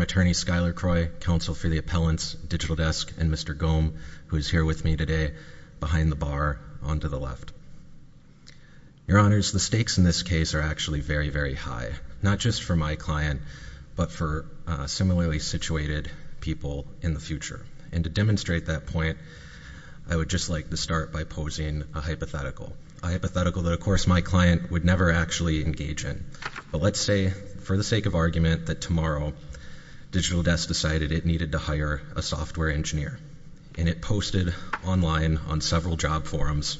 Attorney Skyler Croy, Counsel for the Appellants, Digital Desk, and Mr. Gohm, who is here with me today, behind the bar, on to the left. Your Honors, the stakes in this case are actually very, very high. Not just for my client, but for similarly situated people in the future. And to demonstrate that point, I would just like to start by posing a hypothetical. A hypothetical that, of course, my client would never actually engage in. But let's say, for the sake of argument, that tomorrow, Digital Desk decided it needed to hire a software engineer. And it posted online on several job forums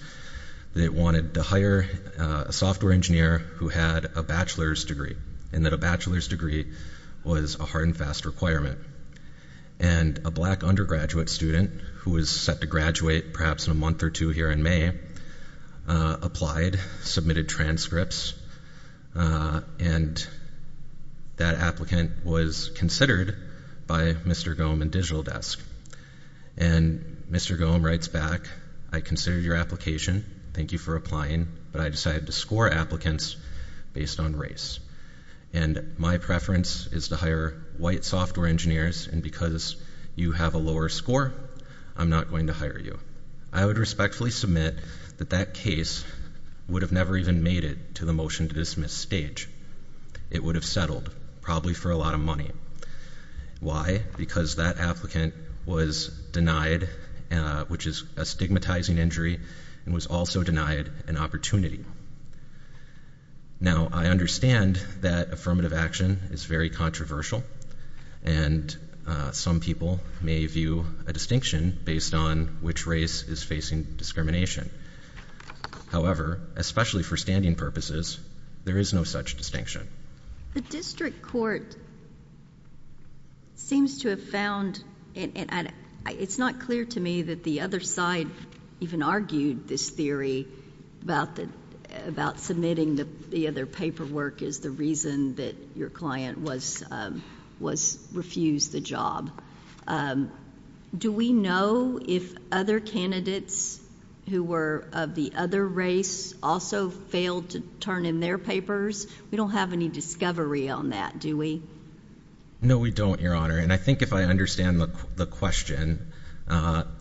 that it wanted to hire a software engineer who had a bachelor's degree. And that a bachelor's degree was a hard and fast requirement. And a black undergraduate student, who is set to graduate perhaps in a month or two here in May, applied, submitted transcripts. And that applicant was considered by Mr. Gohm and Digital Desk. And Mr. Gohm writes back, I considered your application, thank you for applying, but I decided to score applicants based on race. And my preference is to hire white software engineers, and because you have a lower score, I'm not going to hire you. I would respectfully submit that that case would have never even made it to the motion to dismiss stage. It would have settled, probably for a lot of money. Why? Because that applicant was denied, which is a stigmatizing injury, and was also denied an opportunity. Now, I understand that affirmative action is very controversial. And some people may view a distinction based on which race is facing discrimination. However, especially for standing purposes, there is no such distinction. The district court seems to have found, and it's not clear to me that the other side even argued this theory about submitting the other paperwork is the reason that your client was refused the job. Do we know if other candidates who were of the other race also failed to turn in their papers? We don't have any discovery on that, do we? No, we don't, Your Honor. And I think if I understand the question, I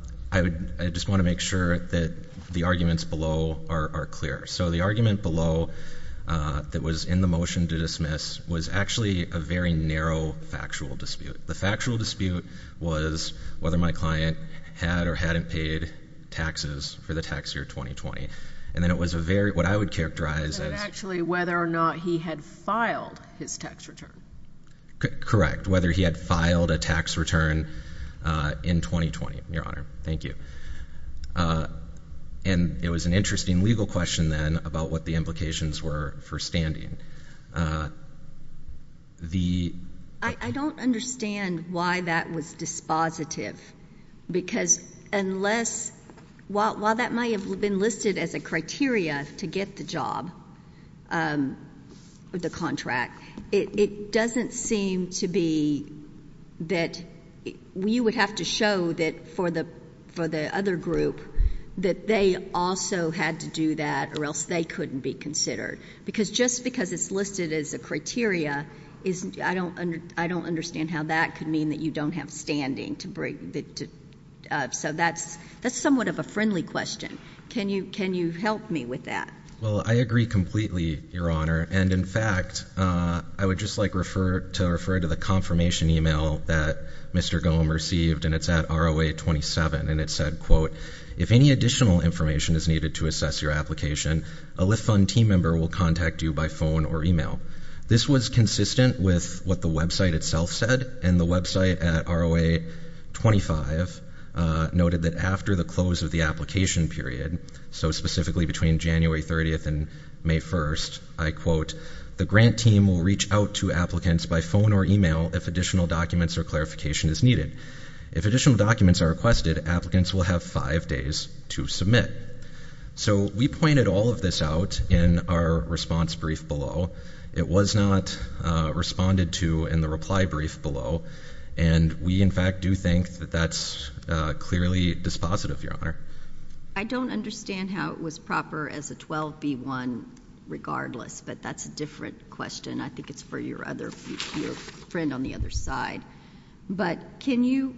just want to make sure that the arguments below are clear. So the argument below that was in the motion to dismiss was actually a very narrow factual dispute. The factual dispute was whether my client had or hadn't paid taxes for the tax year 2020. And then it was a very, what I would characterize as- Actually, whether or not he had filed his tax return. Correct, whether he had filed a tax return in 2020, Your Honor. Thank you. And it was an interesting legal question, then, about what the implications were for standing. The- I don't understand why that was dispositive. Because unless, while that might have been listed as a criteria to get the job, the contract, it doesn't seem to be that you would have to show that for the other group that they also had to do that or else they couldn't be considered. Because just because it's listed as a criteria, I don't understand how that could mean that you don't have standing to So that's somewhat of a friendly question. Can you help me with that? Well, I agree completely, Your Honor. And in fact, I would just like to refer to the confirmation email that Mr. Gohm received, and it's at ROA 27, and it said, quote, if any additional information is needed to assess your application, a Lift Fund team member will contact you by phone or email. This was consistent with what the website itself said, and the website at ROA 25 noted that after the close of the application period, so specifically between January 30th and May 1st, I quote, the grant team will reach out to applicants by phone or email if additional documents or clarification is needed. If additional documents are requested, applicants will have five days to submit. So we pointed all of this out in our response brief below. It was not responded to in the reply brief below. And we, in fact, do think that that's clearly dispositive, Your Honor. I don't understand how it was proper as a 12B1 regardless, but that's a different question. I think it's for your friend on the other side. But can you,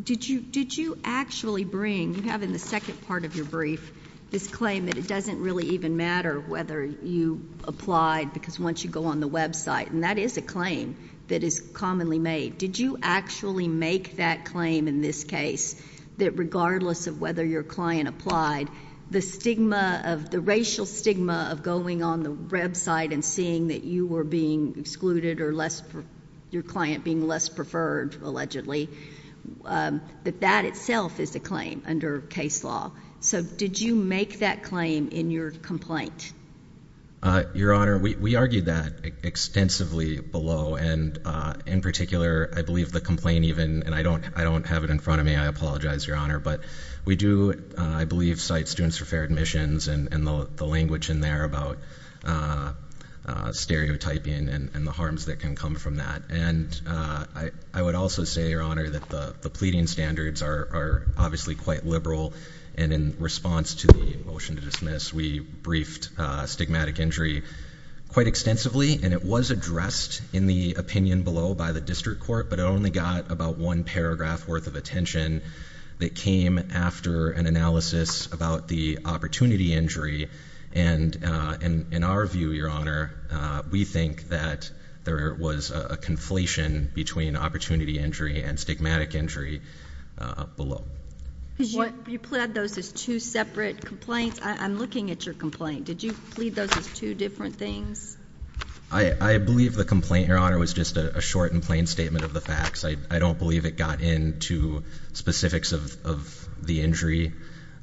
did you actually bring, you have in the second part of your brief this claim that it doesn't really even matter whether you applied, because once you go on the website, and that is a claim that is commonly made. Did you actually make that claim in this case, that regardless of whether your client applied, the stigma of the racial stigma of going on the website and seeing that you were being excluded or less, your client being less preferred, allegedly. That that itself is a claim under case law. So did you make that claim in your complaint? Your Honor, we argued that extensively below. And in particular, I believe the complaint even, and I don't have it in front of me, I apologize, Your Honor. But we do, I believe, cite students for fair admissions and the language in there about stereotyping and the harms that can come from that. And I would also say, Your Honor, that the pleading standards are obviously quite liberal. And in response to the motion to dismiss, we briefed stigmatic injury quite extensively. And it was addressed in the opinion below by the district court, but it only got about one paragraph worth of attention. That came after an analysis about the opportunity injury. And in our view, Your Honor, we think that there was a conflation between opportunity injury and stigmatic injury below. You plead those as two separate complaints? I'm looking at your complaint. Did you plead those as two different things? I believe the complaint, Your Honor, was just a short and plain statement of the facts. I don't believe it got into specifics of the injury.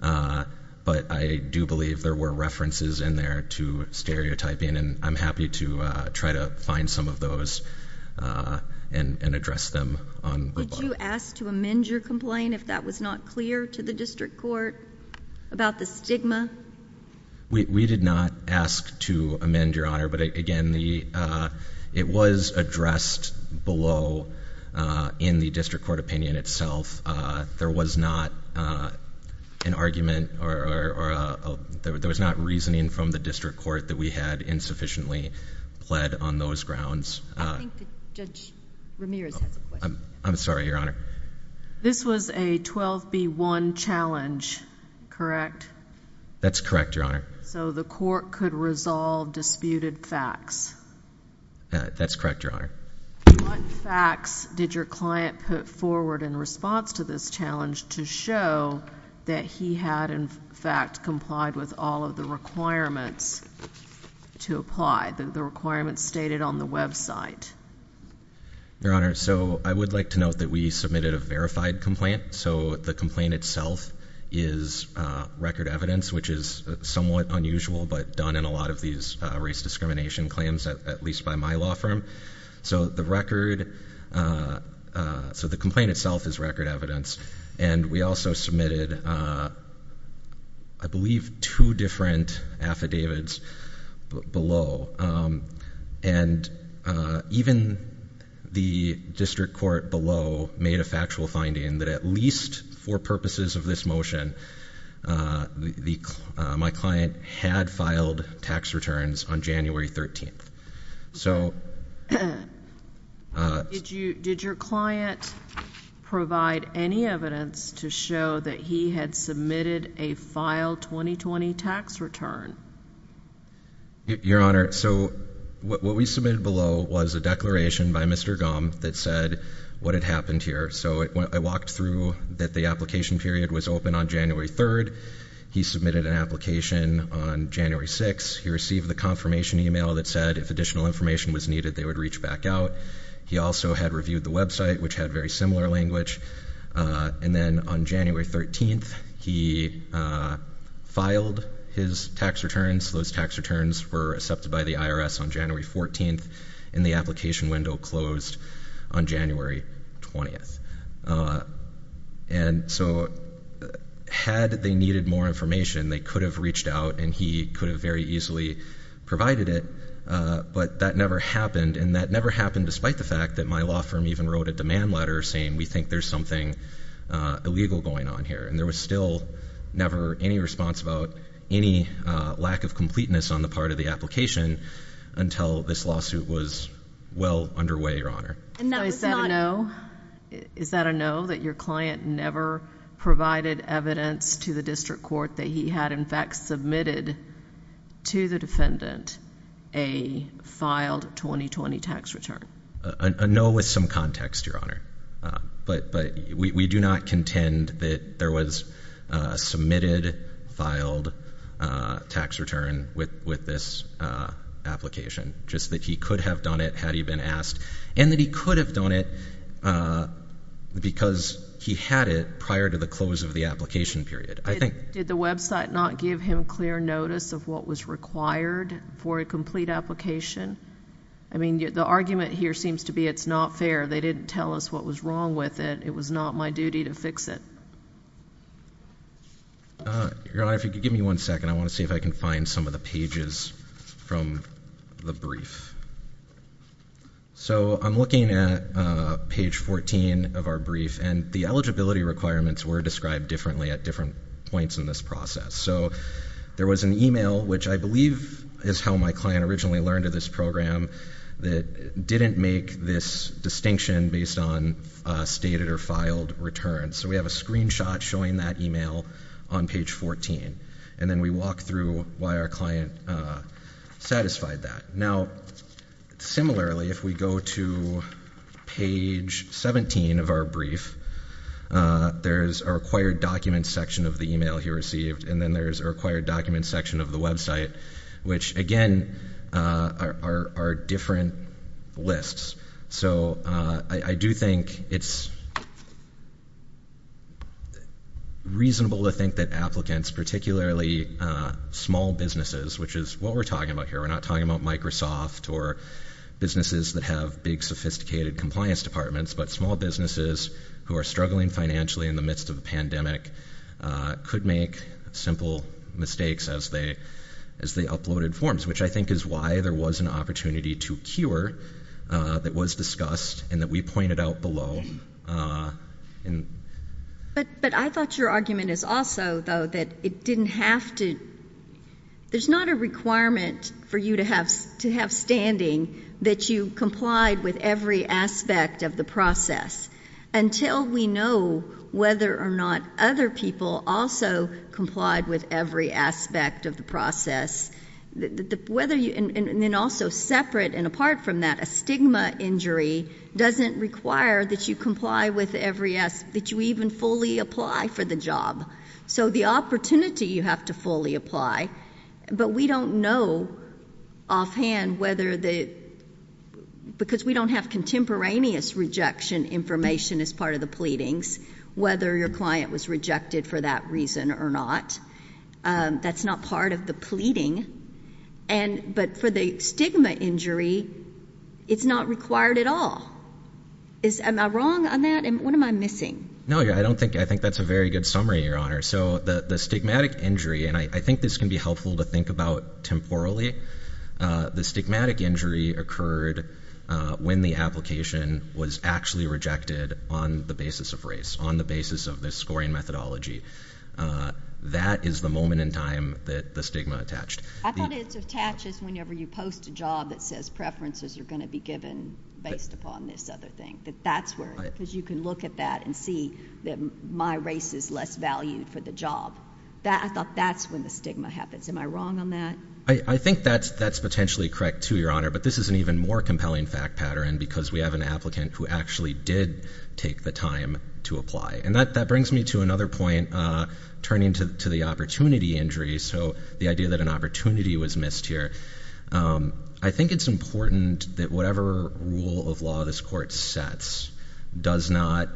But I do believe there were references in there to stereotyping, and I'm happy to try to find some of those and address them on the bottom. Would you ask to amend your complaint if that was not clear to the district court about the stigma? We did not ask to amend, Your Honor. But again, it was addressed below in the district court opinion itself. There was not an argument or there was not reasoning from the district court that we had insufficiently pled on those grounds. I think Judge Ramirez has a question. I'm sorry, Your Honor. This was a 12B1 challenge, correct? That's correct, Your Honor. So the court could resolve disputed facts? That's correct, Your Honor. What facts did your client put forward in response to this challenge to show that he had in fact complied with all of the requirements to apply? The requirements stated on the website. Your Honor, so I would like to note that we submitted a verified complaint. So the complaint itself is record evidence, which is somewhat unusual, but done in a lot of these race discrimination claims, at least by my law firm. So the record, so the complaint itself is record evidence. And we also submitted, I believe, two different affidavits below. And even the district court below made a factual finding that at least for the purposes of this motion, my client had filed tax returns on January 13th. So- Did your client provide any evidence to show that he had submitted a file 2020 tax return? Your Honor, so what we submitted below was a declaration by Mr. Gump that said what had happened here. So I walked through that the application period was open on January 3rd. He submitted an application on January 6th. He received the confirmation email that said if additional information was needed, they would reach back out. He also had reviewed the website, which had very similar language. And then on January 13th, he filed his tax returns. Those tax returns were accepted by the IRS on January 14th, and the application window closed on January 20th. And so had they needed more information, they could have reached out and he could have very easily provided it, but that never happened. And that never happened despite the fact that my law firm even wrote a demand letter saying we think there's something illegal going on here. And there was still never any response about any lack of completeness on the part of the application. Until this lawsuit was well underway, Your Honor. And that was not- Is that a no, that your client never provided evidence to the district court that he had, in fact, submitted to the defendant a filed 2020 tax return? A no with some context, Your Honor. But we do not contend that there was a submitted, filed tax return with this application. Just that he could have done it had he been asked. And that he could have done it because he had it prior to the close of the application period. I think- Did the website not give him clear notice of what was required for a complete application? I mean, the argument here seems to be it's not fair. They didn't tell us what was wrong with it. It was not my duty to fix it. Your Honor, if you could give me one second. I want to see if I can find some of the pages from the brief. So I'm looking at page 14 of our brief, and the eligibility requirements were described differently at different points in this process. So there was an email, which I believe is how my client originally learned of this program, that didn't make this distinction based on stated or filed returns. So we have a screenshot showing that email on page 14, and then we walk through why our client satisfied that. Now, similarly, if we go to page 17 of our brief, there's our acquired documents section of the email he received, and then there's our acquired documents section of the website. Which, again, are different lists. So I do think it's reasonable to think that applicants, particularly small businesses, which is what we're talking about here. We're not talking about Microsoft or businesses that have big, sophisticated compliance departments. But small businesses who are struggling financially in the midst of a pandemic could make simple mistakes as they uploaded forms, which I think is why there was an opportunity to cure that was discussed and that we pointed out below. But I thought your argument is also, though, that it didn't have to, there's not a requirement for you to have standing that you complied with every aspect of the process. Until we know whether or not other people also complied with every aspect of the process. Whether you, and then also separate and apart from that, a stigma injury doesn't require that you comply with every, that you even fully apply for the job. So the opportunity you have to fully apply, but we don't know offhand whether the, because we don't have contemporaneous rejection information as part of the pleadings. Whether your client was rejected for that reason or not, that's not part of the pleading. And, but for the stigma injury, it's not required at all. Is, am I wrong on that? And what am I missing? No, I don't think, I think that's a very good summary, Your Honor. So the stigmatic injury, and I think this can be helpful to think about temporally. The stigmatic injury occurred when the application was actually rejected on the basis of race, on the basis of the scoring methodology. That is the moment in time that the stigma attached. I thought it attaches whenever you post a job that says preferences are going to be given based upon this other thing. That that's where, because you can look at that and see that my race is less valued for the job. That, I thought that's when the stigma happens. Am I wrong on that? I think that's potentially correct too, Your Honor. But this is an even more compelling fact pattern, because we have an applicant who actually did take the time to apply. And that brings me to another point, turning to the opportunity injury. So the idea that an opportunity was missed here. I think it's important that whatever rule of law this court sets does not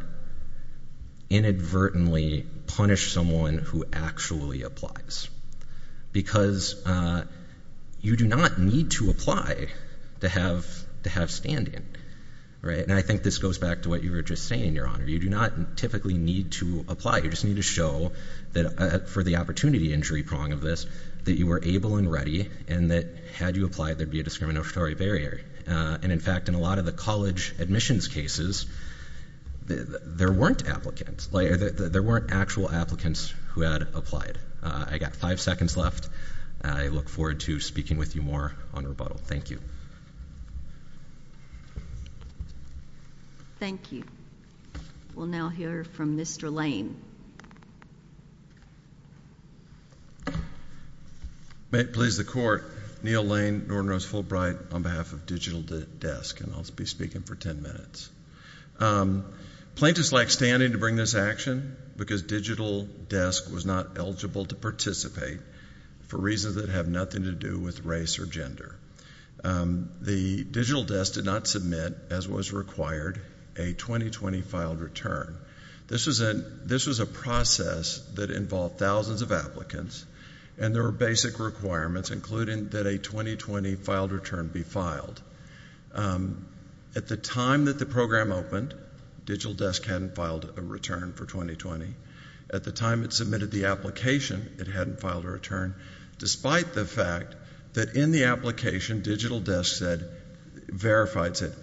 inadvertently punish someone who actually applies. Because you do not need to apply to have standing, right? And I think this goes back to what you were just saying, Your Honor. You do not typically need to apply. You just need to show that for the opportunity injury prong of this, that you were able and ready. And that had you applied, there'd be a discriminatory barrier. And in fact, in a lot of the college admissions cases, there weren't applicants. There weren't actual applicants who had applied. I got five seconds left. I look forward to speaking with you more on rebuttal. Thank you. Thank you. We'll now hear from Mr. Lane. May it please the court. Neil Lane, Norton Rose Fulbright on behalf of Digital Desk, and I'll be speaking for ten minutes. Plaintiffs lack standing to bring this action because Digital Desk was not eligible to participate. For reasons that have nothing to do with race or gender. The Digital Desk did not submit, as was required, a 2020 filed return. This was a process that involved thousands of applicants. And there were basic requirements, including that a 2020 filed return be filed. At the time that the program opened, Digital Desk hadn't filed a return for 2020. At the time it submitted the application, it hadn't filed a return. Despite the fact that in the application, Digital Desk said, verifies it,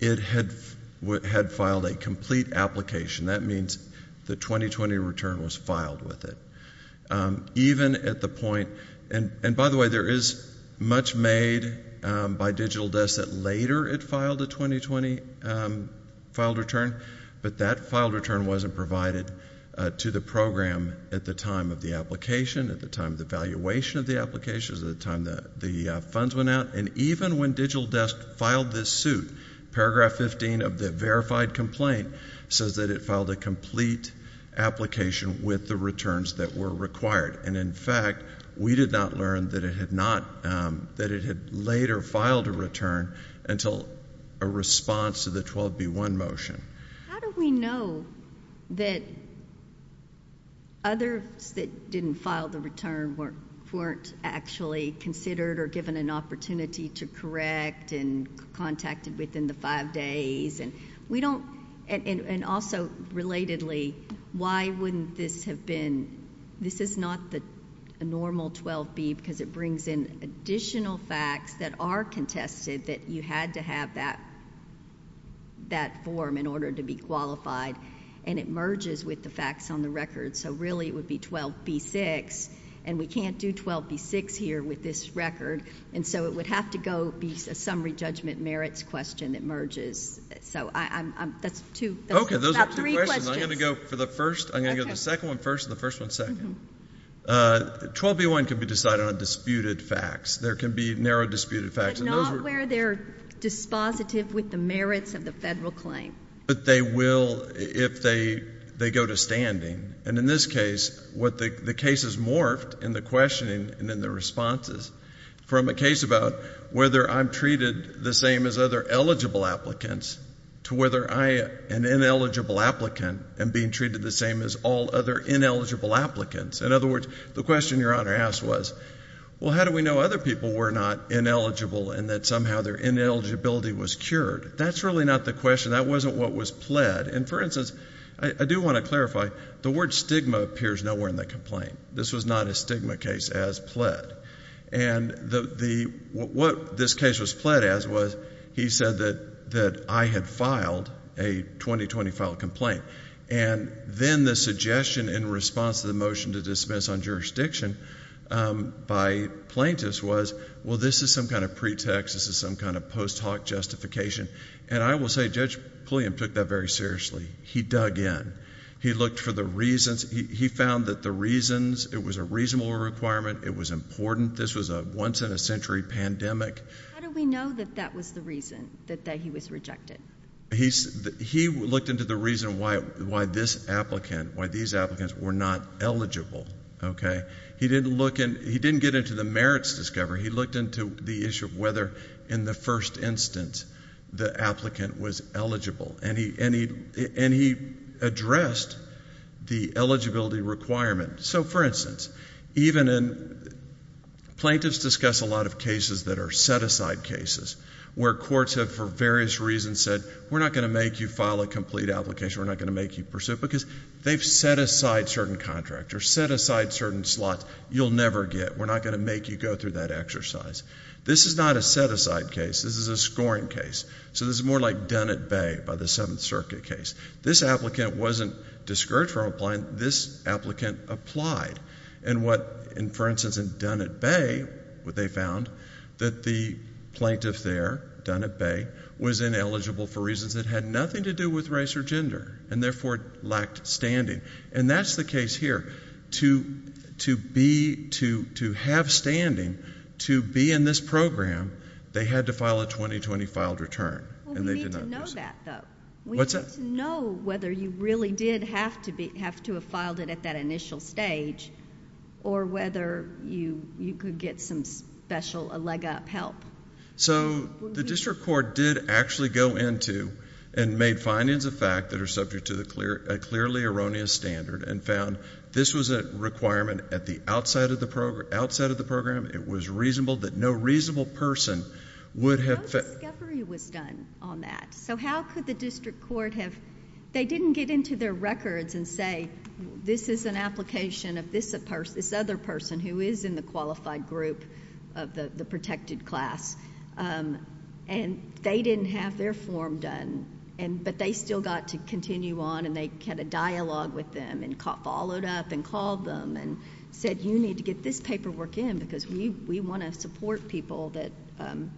it had filed a complete application. That means the 2020 return was filed with it. Even at the point, and by the way, there is much made by Digital Desk that later it filed a 2020 filed return. But that filed return wasn't provided to the program at the time of the application, at the time of the valuation of the application, at the time that the funds went out. And even when Digital Desk filed this suit, paragraph 15 of the verified complaint says that it filed a complete application with the returns that were required. And in fact, we did not learn that it had not, that it had later filed a return until a response to the 12B1 motion. How do we know that others that didn't file the return weren't actually considered or given an opportunity to correct and contacted within the five days? We don't, and also relatedly, why wouldn't this have been, this is not the normal 12B because it brings in additional facts that are contested that you had to have that form in order to be qualified. And it merges with the facts on the record. So really it would be 12B6, and we can't do 12B6 here with this record. And so it would have to go be a summary judgment merits question that merges. So that's two, that's about three questions. Okay, those are two questions. I'm going to go for the first, I'm going to go for the second one first, and the first one second. 12B1 can be decided on disputed facts. There can be narrow disputed facts. But not where they're dispositive with the merits of the federal claim. But they will if they go to standing. And in this case, the case is morphed in the questioning and in the responses. From a case about whether I'm treated the same as other eligible applicants, to whether I, an ineligible applicant, am being treated the same as all other ineligible applicants. In other words, the question your honor asked was, well how do we know other people were not ineligible and that somehow their ineligibility was cured, that's really not the question, that wasn't what was pled. And for instance, I do want to clarify, the word stigma appears nowhere in the complaint. This was not a stigma case as pled. And what this case was pled as was, he said that I had filed a 2020 file complaint. And then the suggestion in response to the motion to dismiss on jurisdiction by plaintiffs was, well this is some kind of pretext, this is some kind of post hoc justification. And I will say Judge Pulliam took that very seriously. He dug in. He looked for the reasons, he found that the reasons, it was a reasonable requirement, it was important. This was a once in a century pandemic. How do we know that that was the reason that he was rejected? He looked into the reason why this applicant, why these applicants were not eligible, okay? He didn't look in, he didn't get into the merits discovery. He looked into the issue of whether, in the first instance, the applicant was eligible. And he addressed the eligibility requirement. So for instance, even in, plaintiffs discuss a lot of cases that are set aside cases. Where courts have for various reasons said, we're not going to make you file a complete application, we're not going to make you pursue it. Because they've set aside certain contracts, or set aside certain slots you'll never get. We're not going to make you go through that exercise. This is not a set aside case, this is a scoring case. So this is more like Dunn at Bay by the Seventh Circuit case. This applicant wasn't discouraged from applying, this applicant applied. And what, for instance, in Dunn at Bay, what they found, that the plaintiff there, Dunn at Bay, was ineligible for reasons that had nothing to do with race or gender. And therefore, lacked standing. And that's the case here. To have standing, to be in this program, they had to file a 2020 filed return. And they did not pursue it. We need to know that though. What's that? We need to know whether you really did have to have filed it at that initial stage. Or whether you could get some special, a leg up help. So the district court did actually go into and made findings of fact that are subject to a clearly erroneous standard. And found this was a requirement at the outside of the program. It was reasonable that no reasonable person would have- No discovery was done on that. So how could the district court have, they didn't get into their records and say, this is an application of this other person who is in the qualified group of the protected class. And they didn't have their form done. But they still got to continue on and they had a dialogue with them. And followed up and called them and said, you need to get this paperwork in. Because we want to support people that are in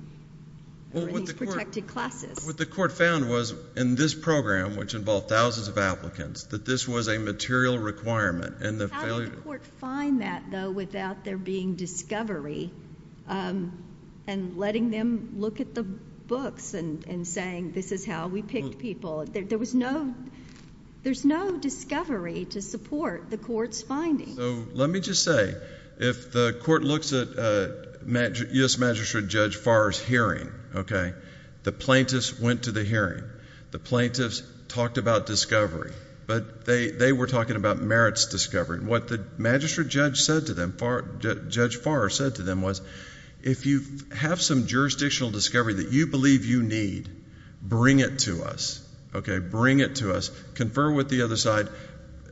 these protected classes. What the court found was, in this program, which involved thousands of applicants, that this was a material requirement. And the failure- How did the court find that though without there being discovery? And letting them look at the books and saying, this is how we picked people. There was no, there's no discovery to support the court's finding. So let me just say, if the court looks at U.S. Magistrate Judge Farrar's hearing, okay. The plaintiffs went to the hearing. The plaintiffs talked about discovery. But they were talking about merits discovery. What the magistrate judge said to them, Judge Farrar said to them was, if you have some jurisdictional discovery that you believe you need, bring it to us. Okay, bring it to us. Confer with the other side.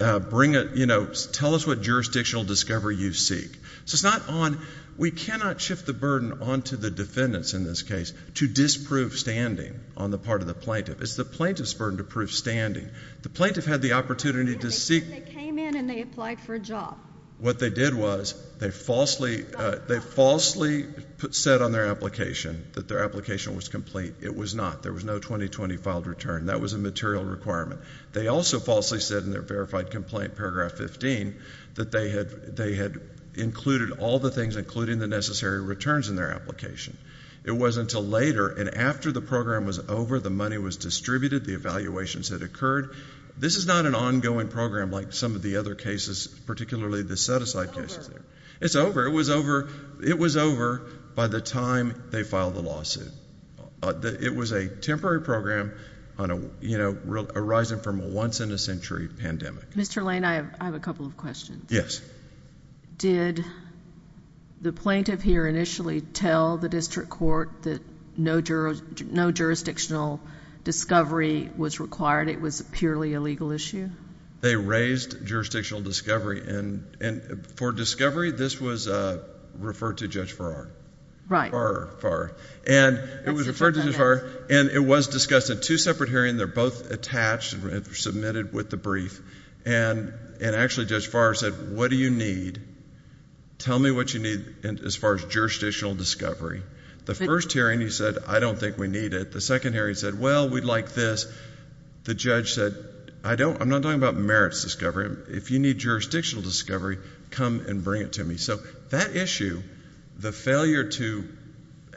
Bring it, you know, tell us what jurisdictional discovery you seek. So it's not on, we cannot shift the burden onto the defendants in this case to disprove standing on the part of the plaintiff. It's the plaintiff's burden to prove standing. The plaintiff had the opportunity to seek- Yeah, they came in and they applied for a job. What they did was, they falsely said on their application that their application was complete. It was not. There was no 2020 filed return. That was a material requirement. They also falsely said in their verified complaint, paragraph 15, that they had included all the things, including the necessary returns in their application. It wasn't until later, and after the program was over, the money was distributed, the evaluations had occurred. This is not an ongoing program like some of the other cases, particularly the set-aside cases. It's over. It was over by the time they filed the lawsuit. It was a temporary program arising from a once-in-a-century pandemic. Mr. Lane, I have a couple of questions. Yes. Did the plaintiff here initially tell the district court that no jurisdictional discovery was required? It was purely a legal issue? They raised jurisdictional discovery, and for discovery, this was referred to Judge Farrar. Right. Farrar. And it was referred to Judge Farrar, and it was discussed in two separate hearings. They're both attached and submitted with the brief. And actually, Judge Farrar said, what do you need? Tell me what you need as far as jurisdictional discovery. The first hearing, he said, I don't think we need it. The second hearing, he said, well, we'd like this. The judge said, I'm not talking about merits discovery. If you need jurisdictional discovery, come and bring it to me. So that issue, the failure to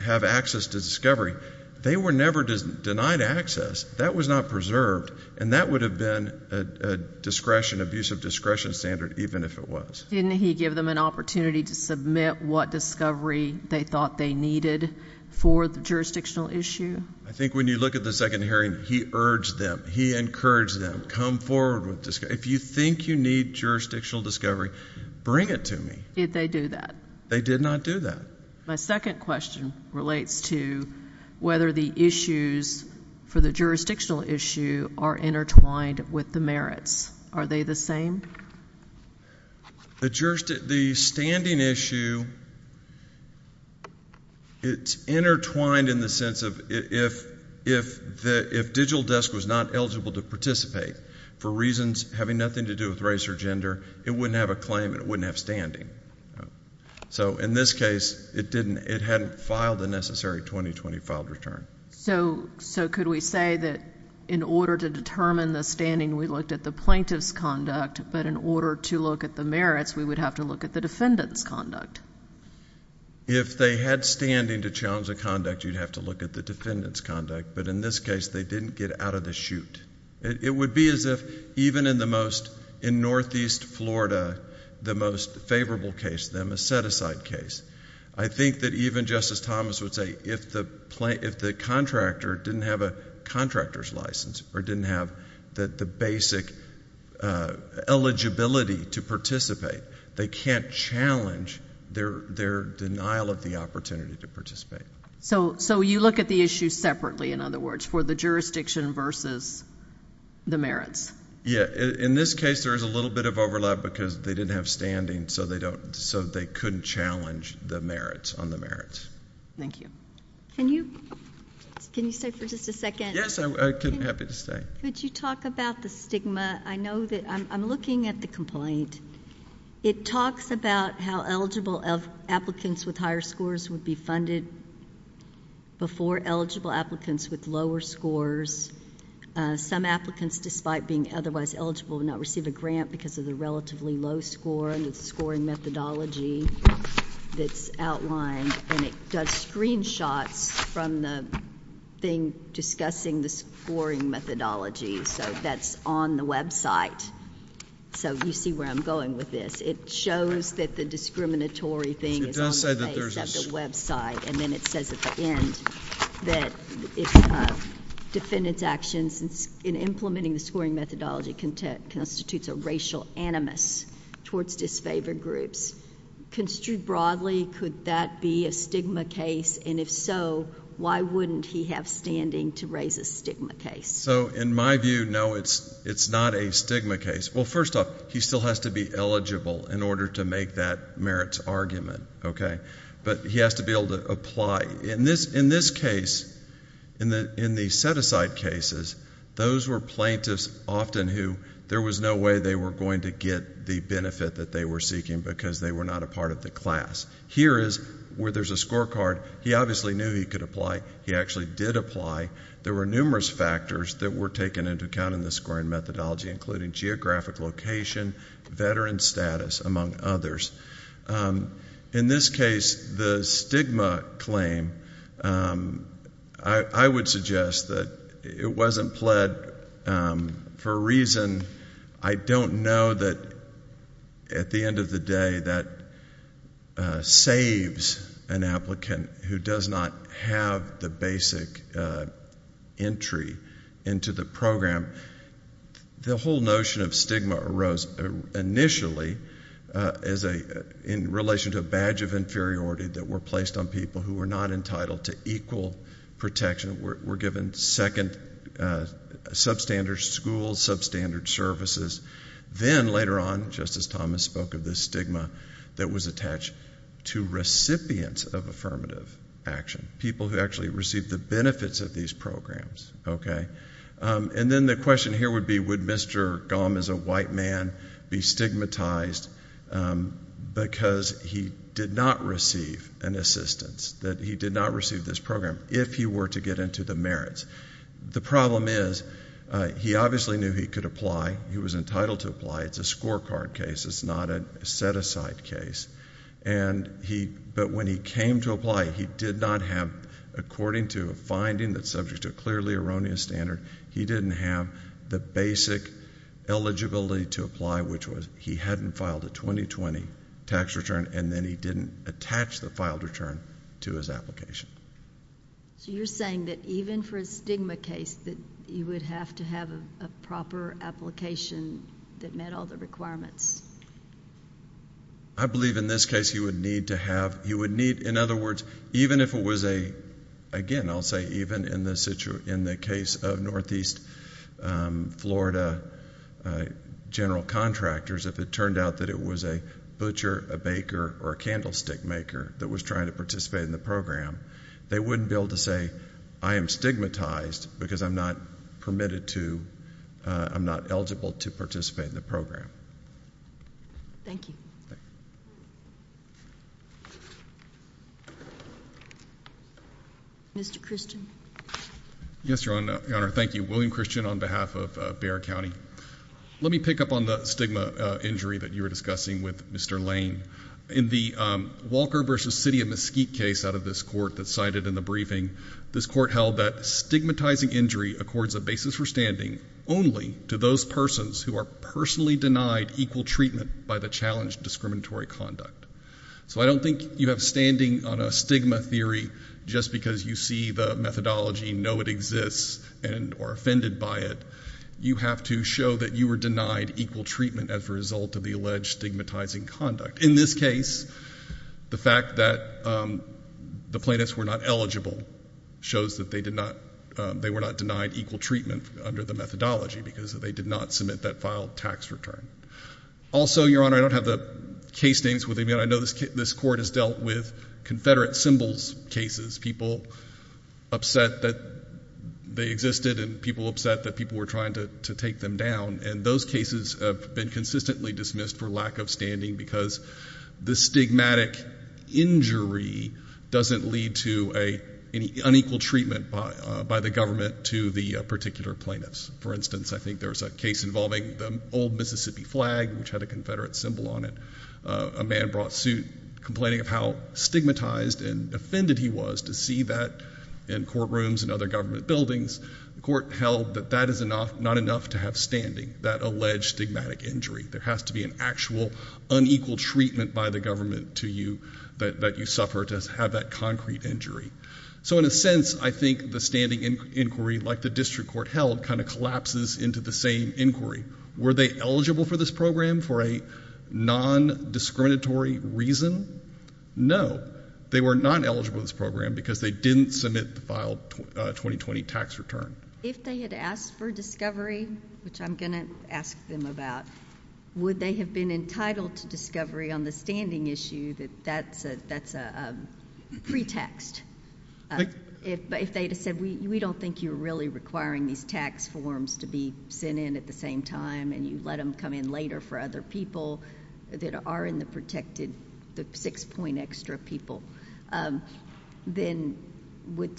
have access to discovery, they were never denied access. That was not preserved, and that would have been a discretion, abusive discretion standard, even if it was. Didn't he give them an opportunity to submit what discovery they thought they needed for the jurisdictional issue? I think when you look at the second hearing, he urged them. He encouraged them. Come forward. If you think you need jurisdictional discovery, bring it to me. Did they do that? They did not do that. My second question relates to whether the issues for the jurisdictional issue are intertwined with the merits. Are they the same? The standing issue, it's intertwined in the sense of, if Digital Desk was not eligible to participate for reasons having nothing to do with race or gender, it wouldn't have a claim and it wouldn't have standing. So in this case, it hadn't filed the necessary 2020 filed return. So could we say that in order to determine the standing, we looked at the plaintiff's conduct, but in order to look at the merits, we would have to look at the defendant's conduct? If they had standing to challenge the conduct, you'd have to look at the defendant's conduct. But in this case, they didn't get out of the chute. It would be as if, even in the most, in Northeast Florida, the most favorable case, the Meseticide case. I think that even Justice Thomas would say, if the contractor didn't have a contractor's license or didn't have the basic eligibility to participate, they can't challenge their denial of the opportunity to participate. So you look at the issue separately, in other words, for the jurisdiction versus the merits? Yeah, in this case, there is a little bit of overlap because they didn't have standing, so they couldn't challenge the merits on the merits. Thank you. Can you stay for just a second? Yes, I'm happy to stay. Could you talk about the stigma? I know that, I'm looking at the complaint. It talks about how eligible applicants with higher scores would be funded before eligible applicants with lower scores. Some applicants, despite being otherwise eligible, would not receive a grant because of the relatively low score, and it's a scoring methodology that's outlined. And it does screenshots from the thing discussing the scoring methodology, so that's on the website. So you see where I'm going with this. It shows that the discriminatory thing is on the face of the website, and then it says at the end that defendant's actions in implementing the scoring methodology constitutes a racial animus towards disfavored groups. Construed broadly, could that be a stigma case? And if so, why wouldn't he have standing to raise a stigma case? So in my view, no, it's not a stigma case. Well, first off, he still has to be eligible in order to make that merits argument, okay? But he has to be able to apply. In this case, in the set-aside cases, those were plaintiffs often who, there was no way they were going to get the benefit that they were seeking because they were not a part of the class. Here is where there's a scorecard. He obviously knew he could apply. He actually did apply. There were numerous factors that were taken into account in the scoring methodology, including geographic location, veteran status, among others. In this case, the stigma claim, I would suggest that it wasn't pled for a reason I don't know that at the end of the day that saves an applicant who does not have the basic entry into the program. The whole notion of stigma arose initially as a, in relation to a badge of inferiority that were placed on people who were not entitled to equal protection. We're given second substandard schools, substandard services. Then later on, Justice Thomas spoke of this stigma that was attached to recipients of affirmative action. People who actually received the benefits of these programs, okay? And then the question here would be, would Mr. Gahm as a white man be stigmatized because he did not receive an assistance, that he did not receive this program if he were to get into the merits? The problem is, he obviously knew he could apply. He was entitled to apply. It's a scorecard case. It's not a set-aside case. But when he came to apply, he did not have, according to a finding that's subject to a clearly erroneous standard, he didn't have the basic eligibility to apply, which was he hadn't filed a 2020 tax return, and then he didn't attach the filed return to his application. So you're saying that even for a stigma case, that he would have to have a proper application that met all the requirements? I believe in this case, he would need to have, he would need, in other words, even if it was a, again, I'll say even in the case of Northeast Florida general contractors, if it turned out that it was a butcher, a baker, or a candlestick maker that was trying to participate in the program, they wouldn't be able to say, I am stigmatized because I'm not permitted to, I'm not eligible to participate in the program. Thank you. Mr. Christian. Yes, Your Honor, thank you. William Christian on behalf of Bexar County. Let me pick up on the stigma injury that you were discussing with Mr. Lane. In the Walker versus City of Mesquite case out of this court that's cited in the briefing, this court held that stigmatizing injury accords a basis for standing only to those persons who are personally denied equal treatment by the challenged discriminatory conduct. So I don't think you have standing on a stigma theory just because you see the methodology, know it exists, and are offended by it. You have to show that you were denied equal treatment as a result of the alleged stigmatizing conduct. In this case, the fact that the plaintiffs were not eligible shows that they did not, they were not denied equal treatment under the methodology because they did not submit that filed tax return. Also, Your Honor, I don't have the case names with me. I know this court has dealt with Confederate symbols cases. People upset that they existed and people upset that people were trying to take them down. And those cases have been consistently dismissed for lack of standing because the stigmatic injury doesn't lead to an unequal treatment by the government to the particular plaintiffs. For instance, I think there's a case involving the old Mississippi flag which had a Confederate symbol on it. A man brought suit complaining of how stigmatized and offended he was to see that in courtrooms and other government buildings. The court held that that is not enough to have standing, that alleged stigmatic injury. There has to be an actual unequal treatment by the government to you that you suffer to have that concrete injury. So in a sense, I think the standing inquiry like the district court held kind of collapses into the same inquiry. Were they eligible for this program for a non-discriminatory reason? No, they were not eligible for this program because they didn't submit the file 2020 tax return. If they had asked for discovery, which I'm going to ask them about, would they have been entitled to discovery on the standing issue that that's a pretext? If they had said, we don't think you're really requiring these tax forms to be sent in at the same time and you let them come in later for other people that are in the protected, the six point extra people, then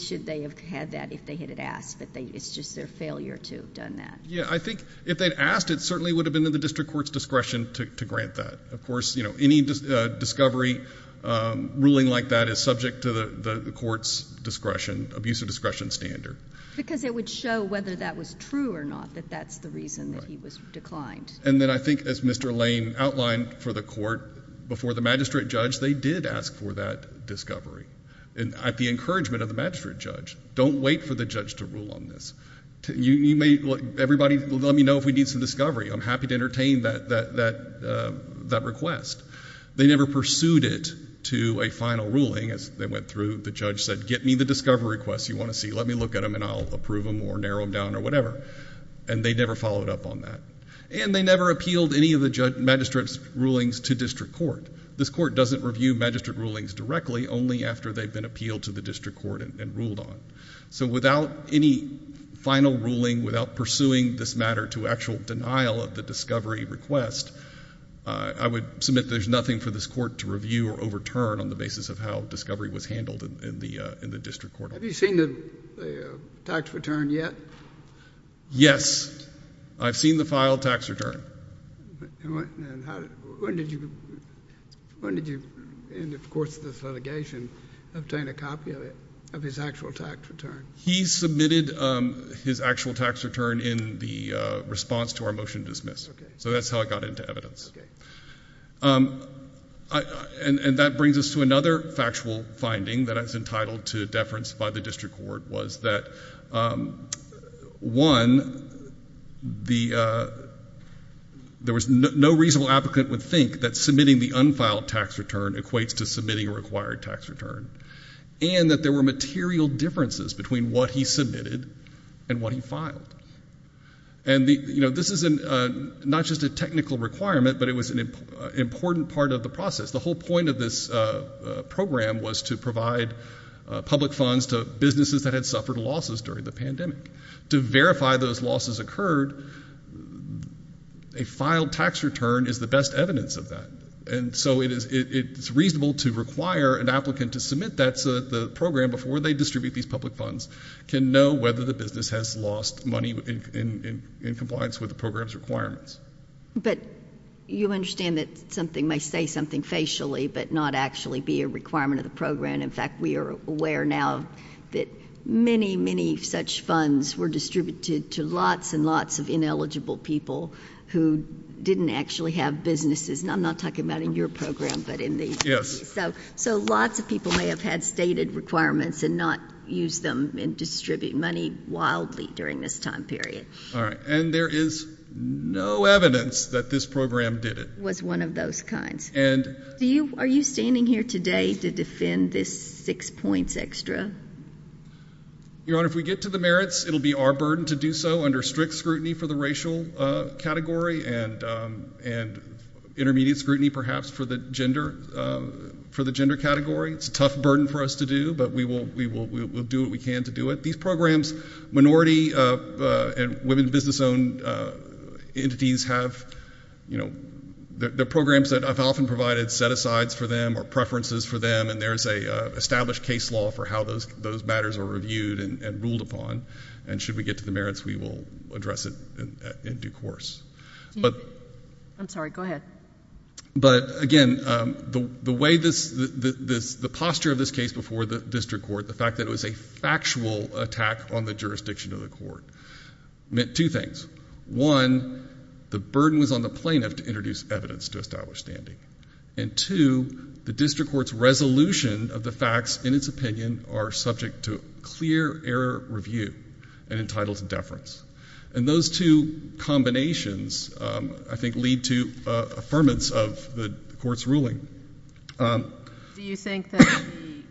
should they have had that if they had asked, but it's just their failure to have done that. Yeah, I think if they'd asked, it certainly would have been in the district court's discretion to grant that. Of course, any discovery ruling like that is subject to the court's discretion, abuse of discretion standard. Because it would show whether that was true or not, that that's the reason that he was declined. And then I think as Mr. Lane outlined for the court before the magistrate judge, they did ask for that discovery. And at the encouragement of the magistrate judge, don't wait for the judge to rule on this. Everybody, let me know if we need some discovery. I'm happy to entertain that request. They never pursued it to a final ruling as they went through. The judge said, get me the discovery request you want to see. Let me look at them and I'll approve them or narrow them down or whatever. And they never followed up on that. And they never appealed any of the magistrate's rulings to district court. This court doesn't review magistrate rulings directly, only after they've been appealed to the district court and ruled on. So without any final ruling, without pursuing this matter to actual denial of the discovery request, I would submit there's nothing for this court to review or overturn on the basis of how discovery was handled in the district court. Have you seen the tax return yet? Yes, I've seen the file tax return. And when did you, in the course of this litigation, obtain a copy of it, of his actual tax return? He submitted his actual tax return in the response to our motion to dismiss. So that's how it got into evidence. And that brings us to another factual finding that I was entitled to a deference by the district court was that, one, there was no reasonable applicant would think that submitting the unfiled tax return equates to submitting a required tax return. And that there were material differences between what he submitted and what he filed. And this is not just a technical requirement, but it was an important part of the process. The whole point of this program was to provide public funds to businesses that had suffered losses during the pandemic. To verify those losses occurred, a filed tax return is the best evidence of that. And so it's reasonable to require an applicant to submit that so that the program, before they distribute these public funds, can know whether the business has lost money in compliance with the program's requirements. But you understand that something may say something facially, but not actually be a requirement of the program. In fact, we are aware now that many, many such funds were distributed to lots and lots of ineligible people who didn't actually have businesses. And I'm not talking about in your program, but in the- Yes. So lots of people may have had stated requirements and not used them and distributed money wildly during this time period. All right, and there is no evidence that this program did it. Was one of those kinds. And- Are you standing here today to defend this six points extra? Your Honor, if we get to the merits, it'll be our burden to do so under strict scrutiny for the racial category and intermediate scrutiny perhaps for the gender category. It's a tough burden for us to do, but we will do what we can to do it. These programs, minority and women business owned entities have, the programs that I've often provided set asides for them or preferences for them. And there's a established case law for how those matters are reviewed and ruled upon. And should we get to the merits, we will address it in due course. But- I'm sorry, go ahead. But again, the way this, the posture of this case before the district court, the fact that it was a factual attack on the jurisdiction of the court, meant two things. One, the burden was on the plaintiff to introduce evidence to establish standing. And two, the district court's resolution of the facts in its opinion are subject to clear error review and entitled to deference. And those two combinations, I think, lead to affirmance of the court's ruling. Do you think that the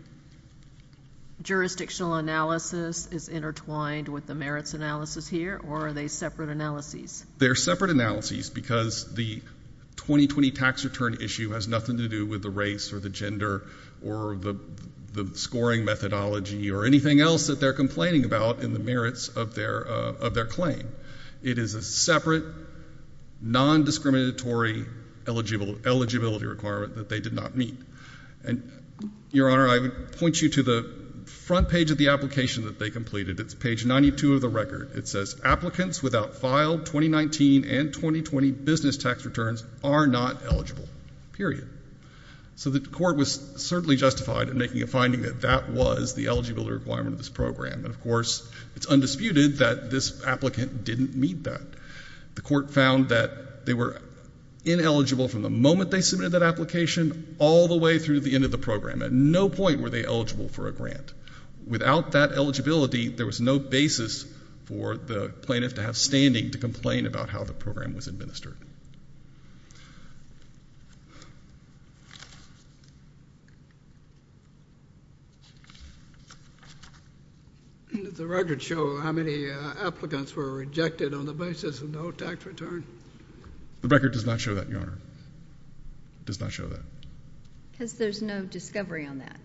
jurisdictional analysis is intertwined with the merits analysis here, or are they separate analyses? They're separate analyses because the 2020 tax return issue has nothing to do with the race or the gender or the scoring methodology or anything else that they're complaining about in the merits of their claim. It is a separate, non-discriminatory eligibility requirement that they did not meet. And your honor, I would point you to the front page of the application that they completed. It's page 92 of the record. It says applicants without filed 2019 and 2020 business tax returns are not eligible, period. So the court was certainly justified in making a finding that that was the eligibility requirement of this program. And of course, it's undisputed that this applicant didn't meet that. The court found that they were ineligible from the moment they submitted that application all the way through the end of the program. At no point were they eligible for a grant. Without that eligibility, there was no basis for the plaintiff to have standing to complain about how the program was administered. Does the record show how many applicants were rejected on the basis of no tax return? The record does not show that, your honor. Does not show that. Because there's no discovery on that.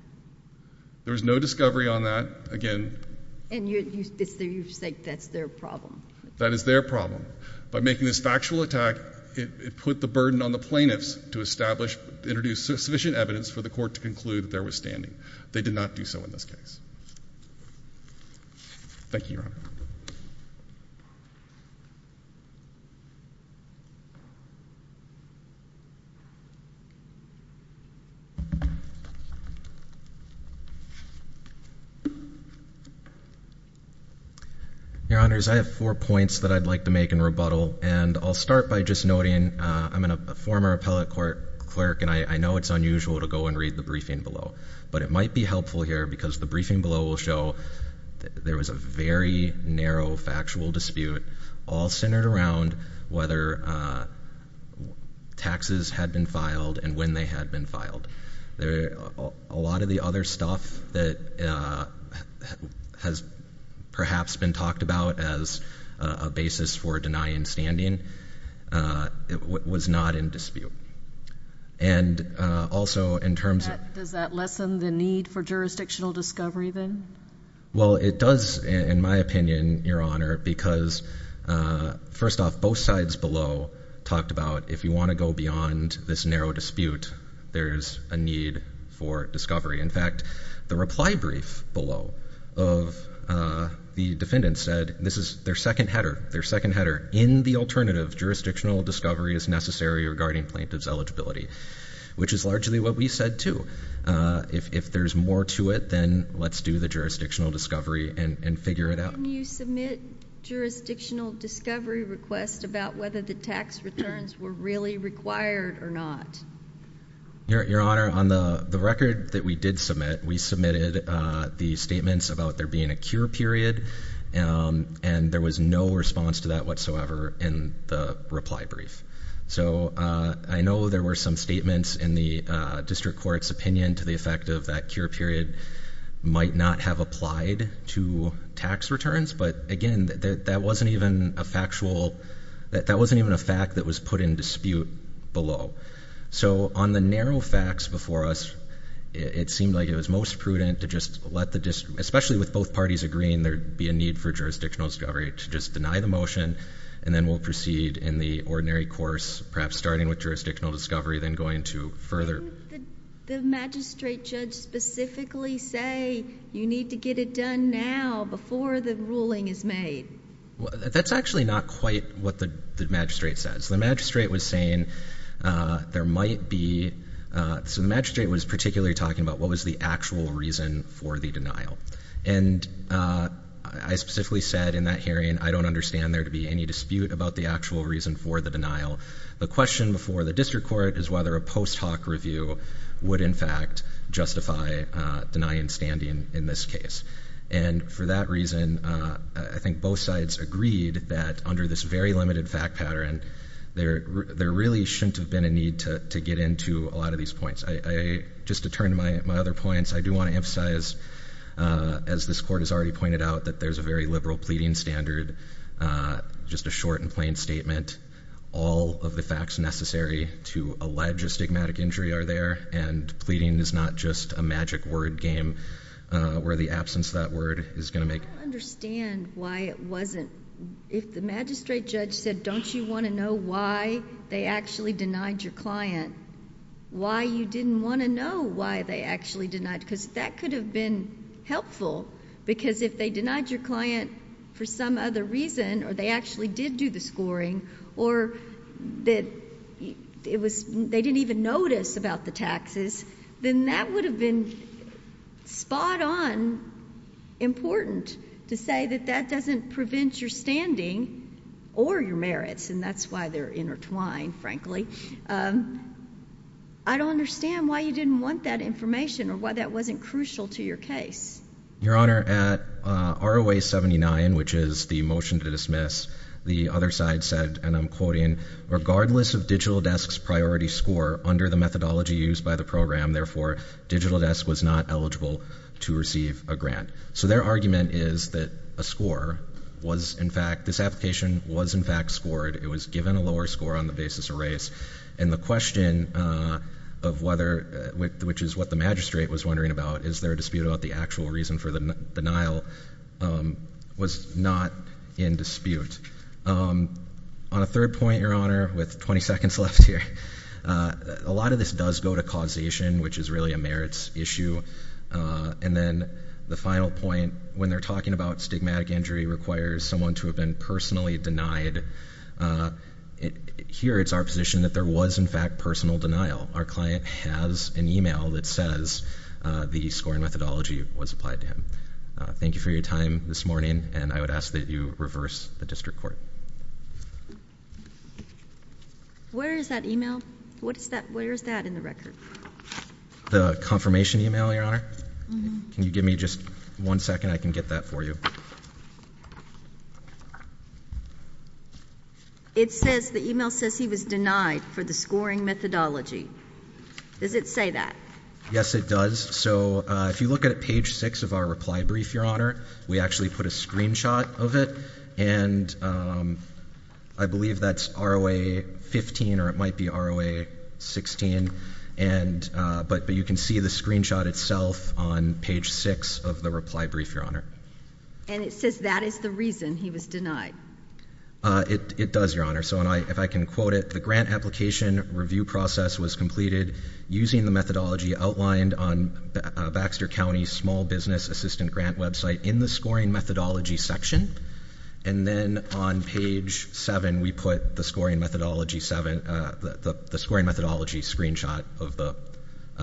There's no discovery on that, again. And you say that's their problem. That is their problem. By making this factual attack, it put the burden on the plaintiffs to establish, introduce sufficient evidence for the court to conclude that there was standing. They did not do so in this case. Thank you, your honor. Your honors, I have four points that I'd like to make in rebuttal. And I'll start by just noting, I'm a former appellate court clerk, and I know it's unusual to go and read the briefing below. But it might be helpful here, because the briefing below will show that there was a very narrow, factual dispute, all centered around whether taxes had been filed and when they had been filed. A lot of the other stuff that has perhaps been talked about as a basis for denying standing was not in dispute. And also in terms of- Does that lessen the need for jurisdictional discovery then? Well, it does, in my opinion, your honor, because first off, both sides below talked about if you want to go beyond this narrow dispute, there's a need for discovery. In fact, the reply brief below of the defendants said, this is their second header. Their second header, in the alternative, jurisdictional discovery is necessary regarding plaintiff's eligibility. Which is largely what we said, too. If there's more to it, then let's do the jurisdictional discovery and figure it out. Can you submit jurisdictional discovery request about whether the tax returns were really required or not? Your honor, on the record that we did submit, we submitted the statements about there being a cure period. And there was no response to that whatsoever in the reply brief. So I know there were some statements in the district court's opinion to the effect of that cure period might not have applied to tax returns, but again, that wasn't even a factual, that wasn't even a fact that was put in dispute below. So on the narrow facts before us, it seemed like it was most prudent to just let the district, especially with both parties agreeing there'd be a need for jurisdictional discovery, to just deny the motion. And then we'll proceed in the ordinary course, perhaps starting with jurisdictional discovery, then going to further. The magistrate judge specifically say you need to get it done now before the ruling is made. That's actually not quite what the magistrate says. The magistrate was saying there might be, so the magistrate was particularly talking about what was the actual reason for the denial. And I specifically said in that hearing, I don't understand there to be any dispute about the actual reason for the denial. The question before the district court is whether a post hoc review would in fact justify denying standing in this case. And for that reason, I think both sides agreed that under this very limited fact pattern, there really shouldn't have been a need to get into a lot of these points. Just to turn to my other points, I do want to emphasize, as this court has already pointed out, that there's a very liberal pleading standard. Just a short and plain statement. All of the facts necessary to allege a stigmatic injury are there. And pleading is not just a magic word game where the absence of that word is going to make- I don't understand why it wasn't. If the magistrate judge said, don't you want to know why they actually denied your client? Why you didn't want to know why they actually denied, because that could have been helpful. Because if they denied your client for some other reason, or they actually did do the scoring, or they didn't even notice about the taxes, then that would have been spot on important to say that that doesn't prevent your standing or your merits. And that's why they're intertwined, frankly. I don't understand why you didn't want that information, or why that wasn't crucial to your case. Your Honor, at ROA 79, which is the motion to dismiss, the other side said, and I'm quoting, regardless of digital desk's priority score under the methodology used by the program, therefore, digital desk was not eligible to receive a grant. So their argument is that a score was in fact, this application was in fact scored, it was given a lower score on the basis of race. And the question of whether, which is what the magistrate was wondering about, is there a dispute about the actual reason for the denial, was not in dispute. On a third point, Your Honor, with 20 seconds left here, a lot of this does go to causation, which is really a merits issue. And then the final point, when they're talking about stigmatic injury requires someone to have been personally denied. Here, it's our position that there was, in fact, personal denial. Our client has an email that says the scoring methodology was applied to him. Thank you for your time this morning, and I would ask that you reverse the district court. Where is that email? What is that, where is that in the record? The confirmation email, Your Honor? Mm-hm. Can you give me just one second? I can get that for you. It says, the email says he was denied for the scoring methodology. Does it say that? Yes, it does. So if you look at page six of our reply brief, Your Honor, we actually put a screenshot of it. And I believe that's ROA 15, or it might be ROA 16. But you can see the screenshot itself on page six of the reply brief, Your Honor. And it says that is the reason he was denied. It does, Your Honor. So if I can quote it, the grant application review process was completed using the methodology outlined on Baxter County Small Business Assistant Grant website in the scoring methodology section. And then on page seven, we put the scoring methodology screenshot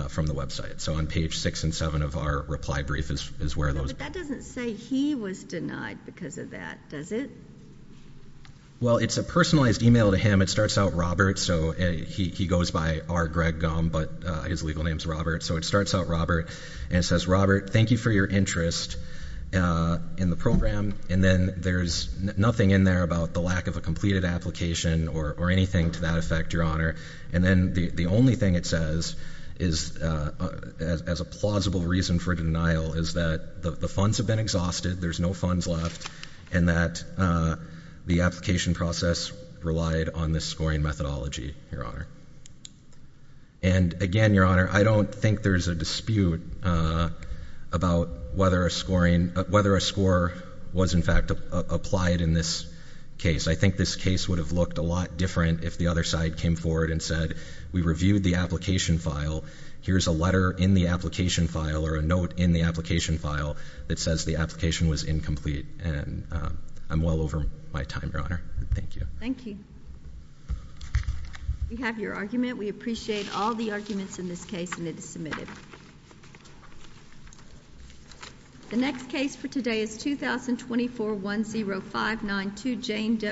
from the website. So on page six and seven of our reply brief is where those- But that doesn't say he was denied because of that, does it? Well, it's a personalized email to him. It starts out Robert, so he goes by R. Greg Gum, but his legal name's Robert. So it starts out Robert, and it says, Robert, thank you for your interest in the program. And then there's nothing in there about the lack of a completed application or anything to that effect, Your Honor. And then the only thing it says is, as a plausible reason for denial, is that the funds have been exhausted, there's no funds left. And that the application process relied on this scoring methodology, Your Honor. And again, Your Honor, I don't think there's a dispute about whether a score was in fact applied in this case. I think this case would have looked a lot different if the other side came forward and said, we reviewed the application file. Here's a letter in the application file, or a note in the application file, that says the application was incomplete. And I'm well over my time, Your Honor. Thank you. Thank you. We have your argument. We appreciate all the arguments in this case, and it is submitted. The next case for today is 2024-10592, Jane Depp.